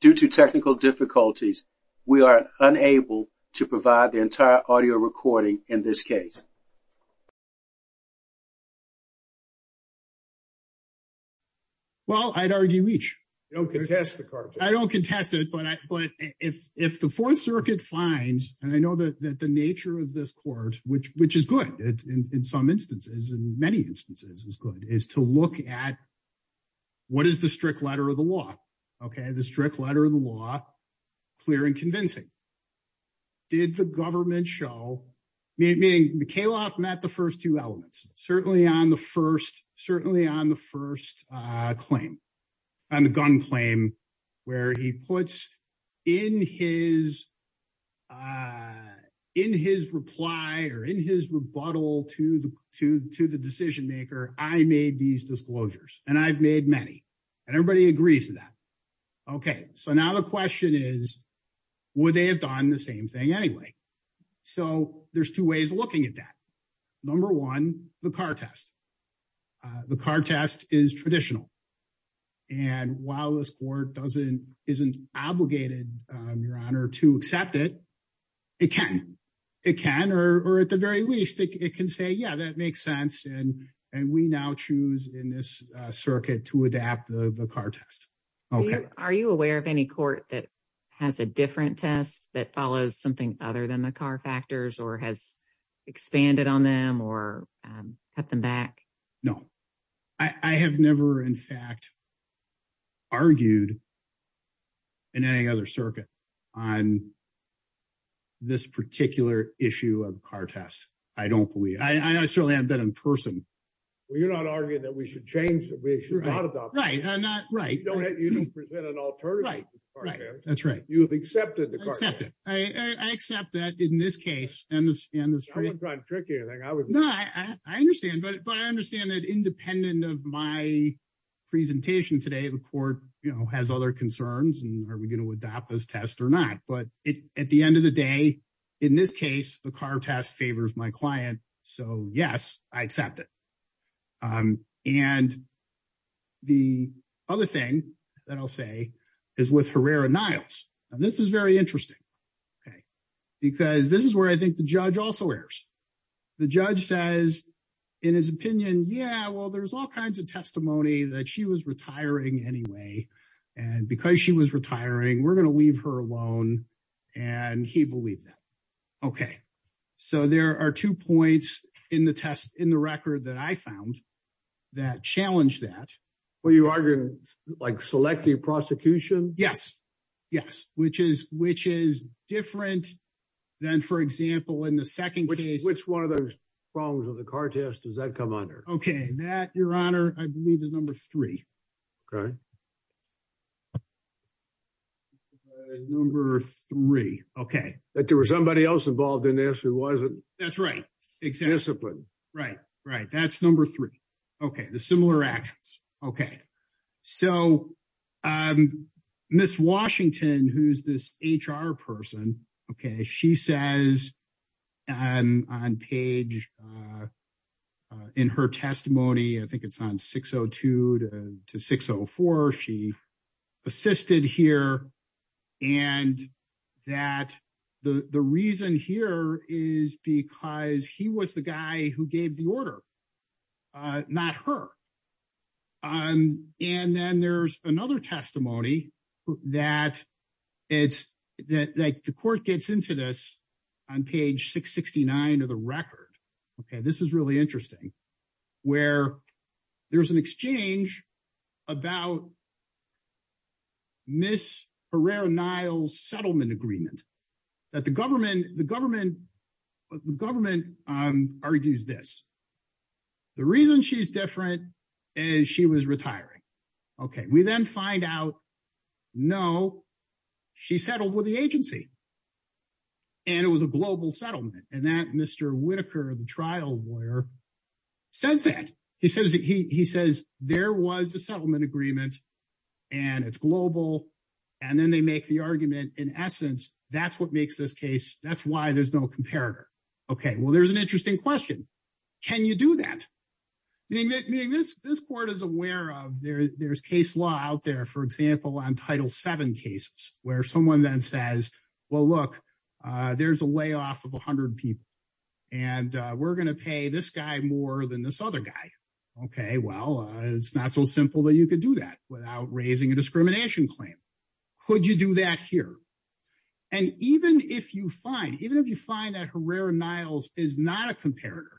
Due to technical difficulties, we are unable to provide the entire audio recording in this case. Well, I'd argue each. Don't contest the cartoon. I don't contest it, but if the Fourth Circuit finds, and I know that the nature of this court, which is good in some instances, in many instances is to look at what is the strict letter of the law, okay? The strict letter of the law, clear and convincing. Did the government show, meaning Mikhaylov met the first two elements, certainly on the first claim, on the gun claim, where he puts in his or in his rebuttal to the decision maker, I made these disclosures, and I've made many, and everybody agrees to that. Okay, so now the question is, would they have done the same thing anyway? So there's two ways of looking at that. Number one, the car test. The car test is or at the very least, it can say, yeah, that makes sense, and we now choose in this circuit to adapt the car test. Okay. Are you aware of any court that has a different test that follows something other than the car factors or has expanded on them or cut them back? No, I have never, in fact, argued in any other circuit on this particular issue of the car test. I don't believe, I certainly haven't been in person. Well, you're not arguing that we should change, that we should not adopt it. Right, right. You don't present an alternative to the car test. That's right. You have accepted the car test. I accept that in this case and in this case. I wasn't trying to trick you or anything. No, I understand, but I understand that presentation today, the court has other concerns and are we going to adopt this test or not, but at the end of the day, in this case, the car test favors my client. So yes, I accept it. And the other thing that I'll say is with Herrera-Niles, and this is very interesting, okay, because this is where I think the judge also errs. The judge says in his opinion, yeah, well, there's all kinds of testimony that she was retiring anyway. And because she was retiring, we're going to leave her alone. And he believed that. Okay. So there are two points in the test, in the record that I found that challenged that. Well, you are going to select the prosecution? Yes. Yes. Which is different than, for example, in the second case. Which one of those problems with the car test does that come under? Okay. That, Your Honor, I believe is number three. Okay. Number three. Okay. That there was somebody else involved in this who wasn't. That's right. Exactly. Disciplined. Right. Right. That's number three. Okay. The similar actions. Okay. So Miss Washington, who's this HR person, okay, she says on page, in her testimony, I think it's on 602 to 604, she assisted here. And that the reason here is because he was the guy who gave the order, not her. And then there's another testimony that it's that the court gets into this on page 669 of the record. Okay, this is really interesting, where there's an exchange about Miss Herrera-Niles settlement agreement, that the government, the government, the government argues this. The reason she's different is she was retiring. Okay. We then find out, no, she settled with the agency. And it was a global settlement. And that Mr. Whitaker, the trial lawyer, says that he says, he says, there was a settlement agreement, and it's global. And then they make the argument, in essence, that's what makes this case. That's why there's no comparator. Okay, well, there's an interesting question. Can you do that? Meaning that, meaning this, this court is aware of there, there's case law out there, for example, on Title VII cases, where someone then says, well, look, there's a layoff of 100 people. And we're going to pay this guy more than this other guy. Okay, well, it's not so simple that you could do that without raising a discrimination claim. Could you do that here? And even if you find, even if you find that Herrera-Niles is not a comparator,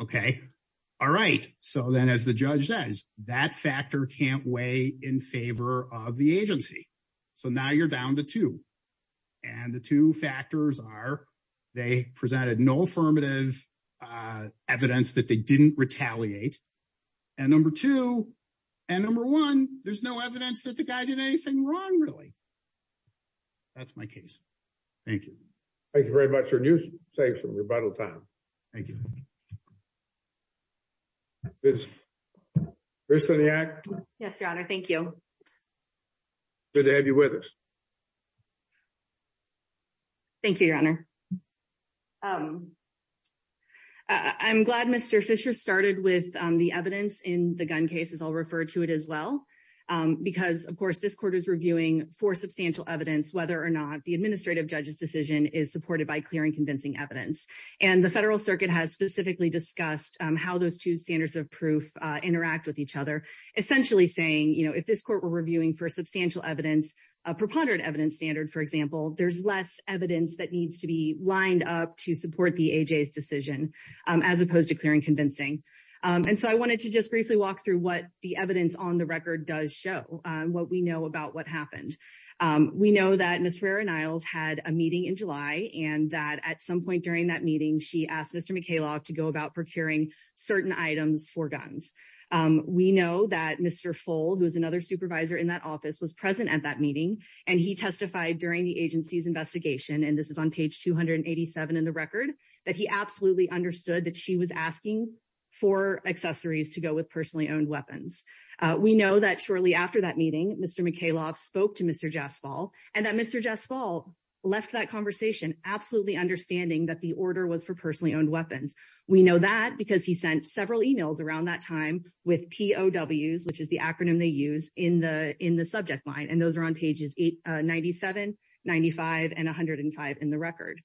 okay, all right. So then as the judge says, that factor can't weigh in favor of the agency. So now you're down to two. And the two factors are, they presented no affirmative evidence that they didn't retaliate. And number two, and number one, there's no evidence that the guy did anything wrong, really. That's my case. Thank you. Thank you very much. Your news saves some rebuttal time. Thank you. Krista Niack. Yes, Your Honor. Thank you. Good to have you with us. Thank you, Your Honor. I'm glad Mr. Fisher started with the evidence in the gun cases. I'll refer to it as well. Because of course, this court is reviewing for substantial evidence, whether or not the administrative judge's decision is supported by clear and convincing evidence. And the Federal Circuit has specifically discussed how those two standards of proof interact with each other, essentially saying, you know, if this court were reviewing for substantial evidence, a preponderant evidence standard, for example, there's less evidence that needs to be lined up to support the AJ's decision, as opposed to clear and convincing. And so I wanted to just briefly walk through what the evidence on the record does show, what we know about what happened. We know that Ms. Ferrer-Niles had a meeting in July, and that at some point during that meeting, she asked Mr. McKaylock to go about procuring certain items for guns. We know that Mr. Full, who is another supervisor in that office, was present at that meeting. And he testified during the agency's investigation, and this is page 287 in the record, that he absolutely understood that she was asking for accessories to go with personally owned weapons. We know that shortly after that meeting, Mr. McKaylock spoke to Mr. Jaspal, and that Mr. Jaspal left that conversation absolutely understanding that the order was for personally owned weapons. We know that because he sent several emails around that time with POWs, which is the acronym they use in the subject line, and those are on pages 97, 95, and 105 in the record.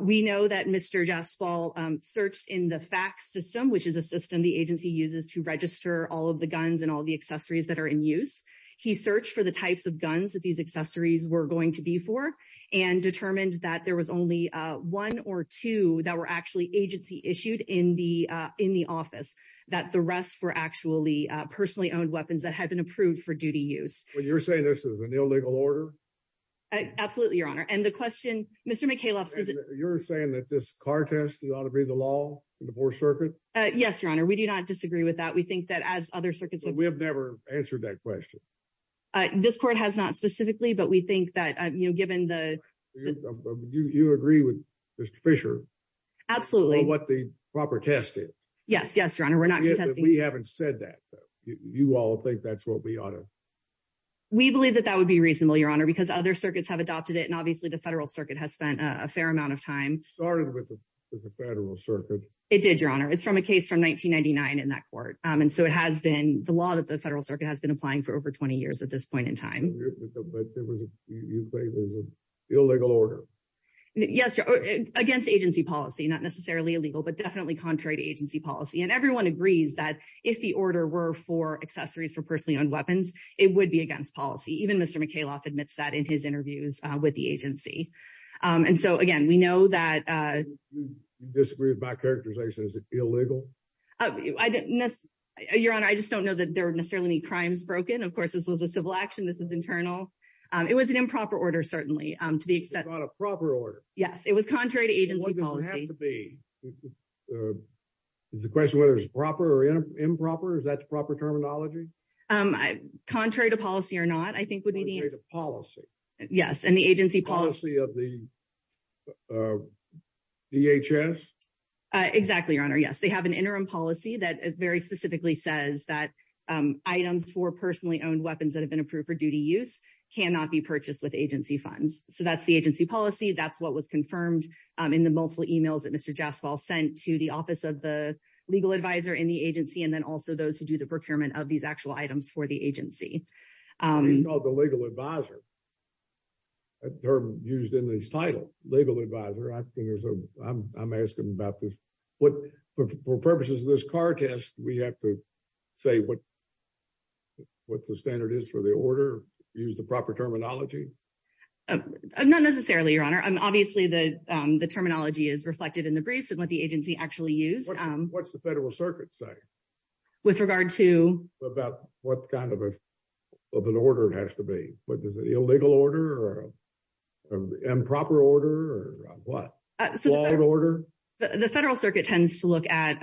We know that Mr. Jaspal searched in the FACS system, which is a system the agency uses to register all of the guns and all the accessories that are in use. He searched for the types of guns that these accessories were going to be for, and determined that there was only one or two that were actually agency issued in the office, that the rest were actually personally owned weapons that had been approved for duty use. Well, you're saying this is an illegal order? Absolutely, Your Honor. And the question, Mr. McKaylock- You're saying that this car test ought to be the law in the 4th Circuit? Yes, Your Honor. We do not disagree with that. We think that as other circuits- But we have never answered that question. This court has not specifically, but we think that given the- You agree with Mr. Fisher? Absolutely. On what the proper test is? Yes. Yes, Your Honor. We're not contesting- We haven't said that. You all think that's what we ought to- We believe that that would be reasonable, Your Honor, because other circuits have adopted it. And obviously, the Federal Circuit has spent a fair amount of time- Started with the Federal Circuit. It did, Your Honor. It's from a case from 1999 in that court. And so, it has been the law that the Federal Circuit has been applying for over 20 years at this point in time. But you say it was an illegal order? Yes, Your Honor. Against agency policy, not necessarily illegal, but definitely contrary to agency policy. And everyone agrees that if the order were for accessories for personally owned weapons, it would be against policy. Even Mr. McKayloff admits that in his interviews with the agency. And so, again, we know that- You disagree with my characterization. Is it illegal? Your Honor, I just don't know that there are necessarily any crimes broken. Of course, this was a civil action. This is internal. It was an improper order, certainly, to the extent- It's not a proper order. Yes. It was contrary to agency policy. It could be. It's a question whether it's proper or improper. Is that the proper terminology? Contrary to policy or not, I think would be the- Contrary to policy. Yes. And the agency policy- Policy of the DHS? Exactly, Your Honor. Yes. They have an interim policy that very specifically says that items for personally owned weapons that have been approved for duty use cannot be purchased with agency funds. So, that's the agency policy. That's what was confirmed in the multiple emails that Mr. Jaspal sent to the office of the legal advisor in the agency and then also those who do the procurement of these actual items for the agency. He's called the legal advisor, a term used in his title, legal advisor. I'm asking about this. For purposes of this car test, we have to say what the standard is for the order, use the proper terminology? Not necessarily, Your Honor. Obviously, the terminology is reflected in the briefs and what the agency actually used. What's the Federal Circuit say? With regard to- About what kind of an order it has to be. Is it an illegal order or an improper order or what? The Federal Circuit tends to look at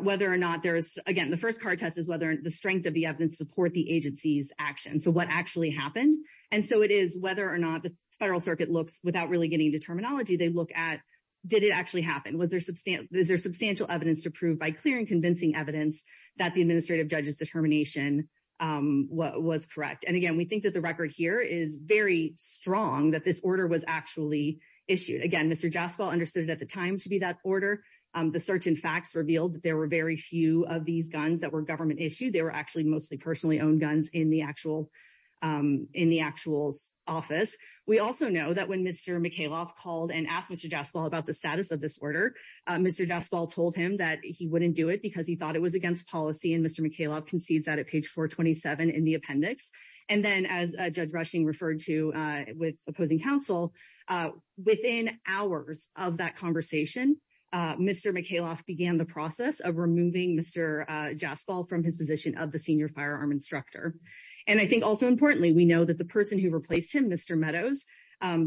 whether or not there's- Again, the first car test is whether the strength of the evidence support the agency's action. So, what actually happened? And so, it is whether or not the Federal Circuit looks, without really getting into terminology, they look at did it actually happen? Was there substantial evidence to prove by clear and convincing evidence that the administrative judge's determination was correct? And again, we think that the record here is very strong that this order was actually issued. Again, Mr. Jaspal understood it at the time to be that order. The search and facts revealed that there very few of these guns that were government issued. They were actually mostly personally owned guns in the actual office. We also know that when Mr. Mikhailov called and asked Mr. Jaspal about the status of this order, Mr. Jaspal told him that he wouldn't do it because he thought it was against policy. And Mr. Mikhailov concedes that at page 427 in the appendix. And then, as Judge Rushing referred to with opposing counsel, within hours of that conversation, Mr. Mikhailov began the process of removing Mr. Jaspal from his position of the senior firearm instructor. And I think also importantly, we know that the person who replaced him, Mr. Meadows,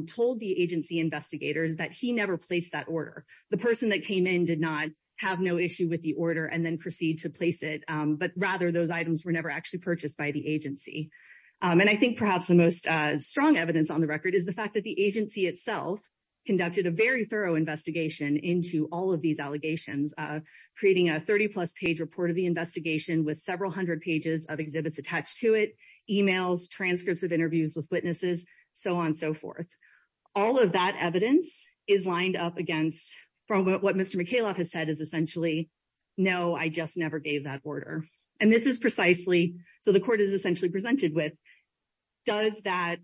told the agency investigators that he never placed that order. The person that came in did not have no issue with the order and then proceed to place it. But rather, those items were never actually purchased by the agency. And I think perhaps the most strong evidence on the record is the fact the agency itself conducted a very thorough investigation into all of these allegations, creating a 30-plus page report of the investigation with several hundred pages of exhibits attached to it, emails, transcripts of interviews with witnesses, so on and so forth. All of that evidence is lined up against from what Mr. Mikhailov has said is essentially, no, I just never gave that order. And this is precisely, so the court is essentially presented with, does the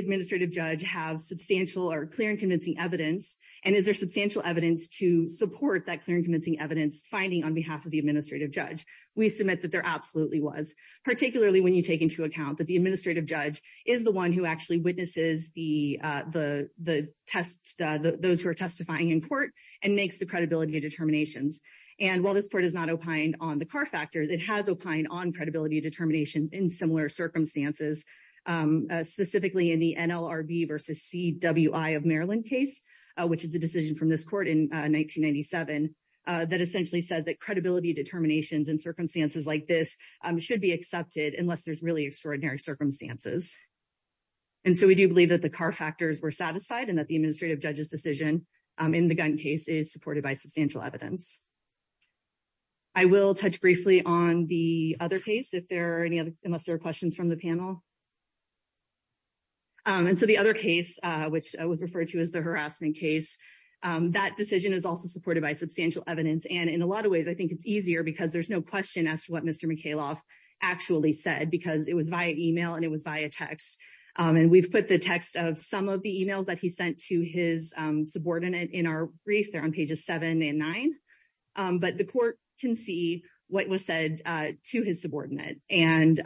administrative judge have substantial or clear and convincing evidence? And is there substantial evidence to support that clear and convincing evidence finding on behalf of the administrative judge? We submit that there absolutely was, particularly when you take into account that the administrative judge is the one who actually witnesses those who are testifying in court and makes the credibility determinations. And while this court has not opined on the car in similar circumstances, specifically in the NLRB versus CWI of Maryland case, which is a decision from this court in 1997, that essentially says that credibility determinations in circumstances like this should be accepted unless there's really extraordinary circumstances. And so we do believe that the car factors were satisfied and that the administrative judge's decision in the gun case is supported by substantial evidence. I will touch briefly on the other case, unless there are questions from the panel. And so the other case, which was referred to as the harassment case, that decision is also supported by substantial evidence. And in a lot of ways, I think it's easier because there's no question as to what Mr. Mikhailov actually said, because it was via email and it was via text. And we've put the text of some of the emails that he sent to his subordinate in our brief, on pages seven and nine. But the court can see what was said to his subordinate. And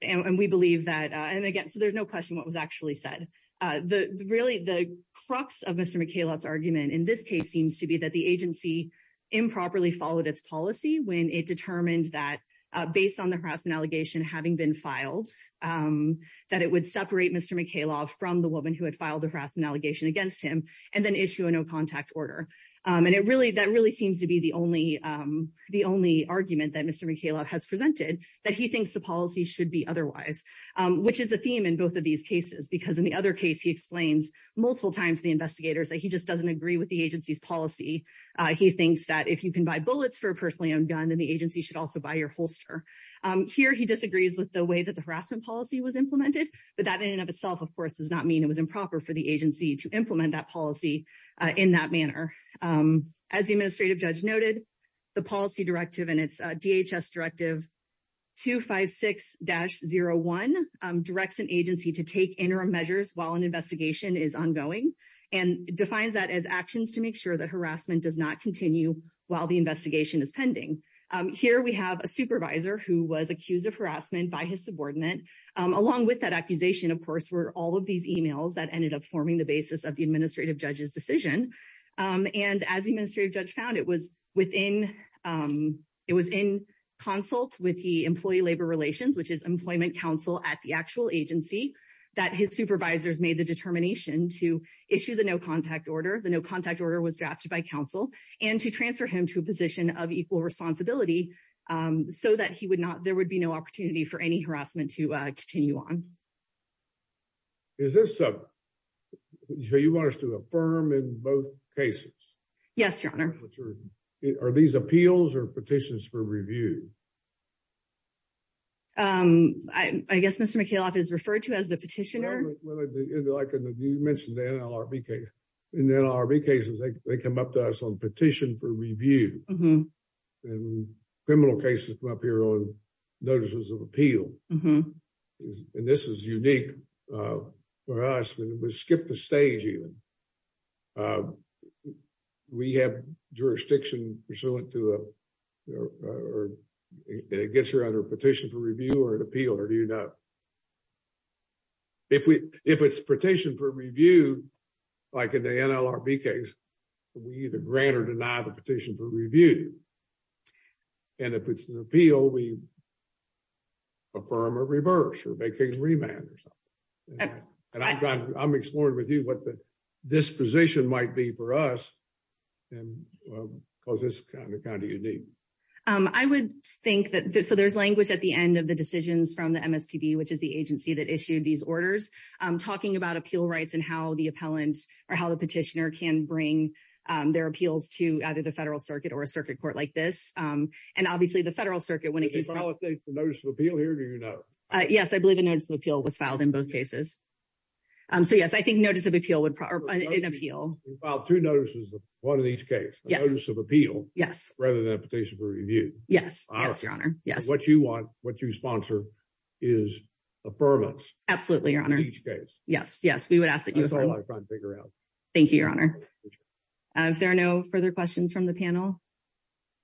we believe that, and again, so there's no question what was actually said. Really, the crux of Mr. Mikhailov's argument in this case seems to be that the agency improperly followed its policy when it determined that based on the harassment allegation having been filed, that it would separate Mr. Mikhailov from the woman who issued a no contact order. And that really seems to be the only argument that Mr. Mikhailov has presented, that he thinks the policy should be otherwise, which is the theme in both of these cases. Because in the other case, he explains multiple times to the investigators that he just doesn't agree with the agency's policy. He thinks that if you can buy bullets for a personally owned gun, then the agency should also buy your holster. Here, he disagrees with the way that the harassment policy was implemented, but that in and of itself, of course, does not mean it was improper for the agency to implement that policy in that manner. As the administrative judge noted, the policy directive and its DHS Directive 256-01 directs an agency to take interim measures while an investigation is ongoing, and defines that as actions to make sure that harassment does not continue while the investigation is pending. Here, we have a supervisor who was accused of harassment by his subordinate, along with that accusation, of course, were all of these emails that ended up forming the basis of the administrative judge's decision. And as the administrative judge found, it was in consult with the Employee Labor Relations, which is employment counsel at the actual agency, that his supervisors made the determination to issue the no contact order. The no contact order was drafted by counsel, and to transfer him to a position of equal responsibility, so that there would be no opportunity for any harassment to continue. So you want us to affirm in both cases? Yes, Your Honor. Are these appeals or petitions for review? I guess Mr. Mikhailov is referred to as the petitioner. You mentioned the NLRB case. In the NLRB cases, they come up to us on petition for review. And criminal cases come up here on petition for review. And this is unique for us when we skip the stage even. We have jurisdiction pursuant to a, or it gets her under a petition for review or an appeal, or do you know? If we, if it's petition for review, like in the NLRB case, we either grant or deny the petition for review. And if it's an appeal, we affirm or reverse or make things remand or something. And I'm exploring with you what this position might be for us. And because it's kind of unique. I would think that, so there's language at the end of the decisions from the MSPB, which is the agency that issued these orders, talking about appeal rights and how the appellant or how the petitioner can bring their appeals to either the federal circuit or a circuit court like this. And obviously the federal circuit, when it came to the notice of appeal here, do you know? Yes, I believe a notice of appeal was filed in both cases. So yes, I think notice of appeal would, an appeal. Well, two notices, one in each case, a notice of appeal rather than a petition for review. Yes. Yes, your honor. Yes. What you want, is affirmance. Absolutely, your honor. Yes. Yes. We would ask that you figure out. Thank you, your honor. If there are no further questions from the panel,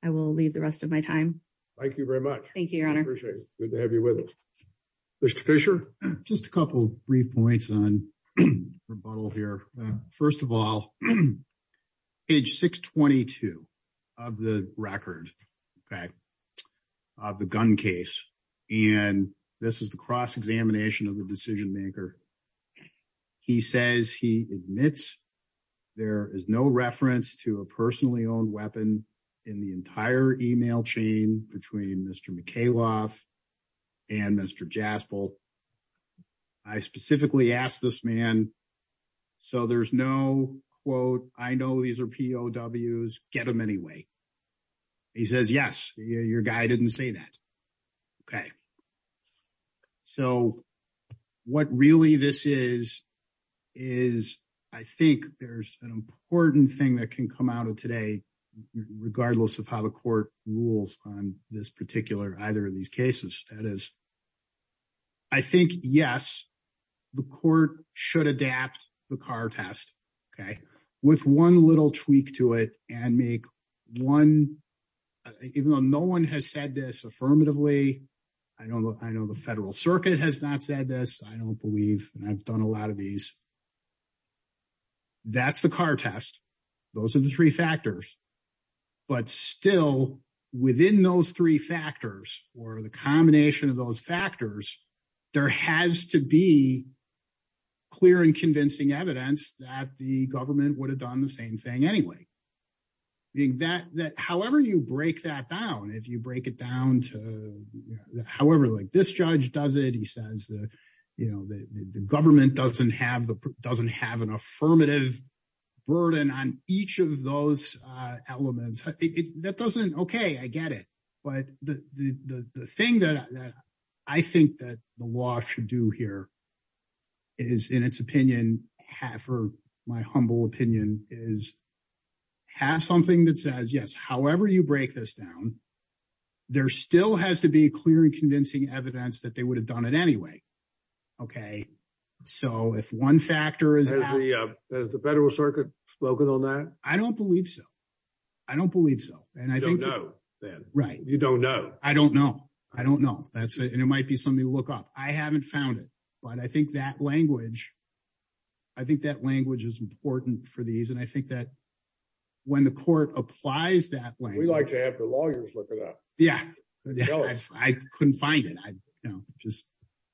I will leave the rest of my time. Thank you very much. Thank you, your honor. Appreciate it. Good to have you with us. Mr. Fisher, just a couple of brief points on rebuttal here. First of all, page 622 of the record, okay, of the gun case. And this is the cross-examination of the decision maker. He says he admits there is no reference to a personally owned weapon in the entire email chain between Mr. Mikhailov and Mr. Jaspel. I specifically asked this man, so there's no quote, I know these are POWs, get them anyway. He says, yes, your guy didn't say that. Okay. So what really this is, is I think there's an important thing that can come out of today, regardless of how the court rules on this particular, either of these cases. That is, I think, yes, the court should adapt the car test. Okay. With one little tweak to it and make one, even though no one has said this affirmatively, I know the federal circuit has not said this, I don't believe, and I've done a lot of these. That's the car test. Those are the three factors. But still, within those three factors, or the combination of those factors, there has to be clear and convincing evidence that the government would have done the same thing anyway. However you break that down, if you break it down to, however, like this judge does it, you know, the government doesn't have an affirmative burden on each of those elements. That doesn't, okay, I get it. But the thing that I think that the law should do here is, in its opinion, my humble opinion, is have something that says, yes, however you break this anyway. Okay. So if one factor is- Has the federal circuit spoken on that? I don't believe so. I don't believe so. You don't know, then. Right. You don't know. I don't know. I don't know. And it might be something to look up. I haven't found it. But I think that language, I think that language is important for these. And I think that when the court applies that language- We like to have the lawyers look it up. Yeah. I couldn't find it.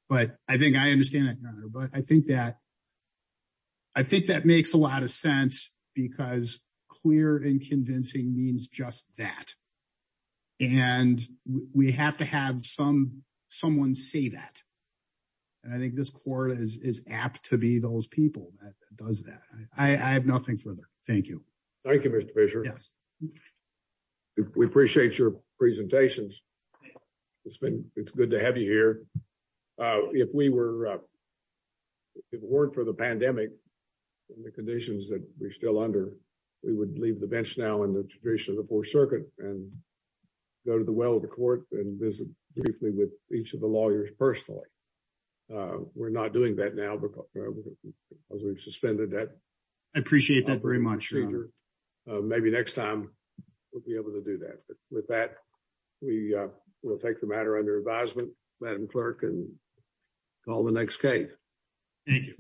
But I think I understand it. But I think that makes a lot of sense because clear and convincing means just that. And we have to have someone say that. And I think this court is apt to be those people that does that. I have nothing further. Thank you. Thank you, Mr. Fisher. We appreciate your presentations. It's good to have you here. If it weren't for the pandemic and the conditions that we're still under, we would leave the bench now in the tradition of the Fourth Circuit and go to the well of the court and visit briefly with each of the lawyers personally. We're not doing that now because we've suspended that procedure. I appreciate that very much, Your Honor. Maybe next time we'll be able to do that. But with that, we will take the matter under advisement, Madam Clerk, and call the next case. Thank you.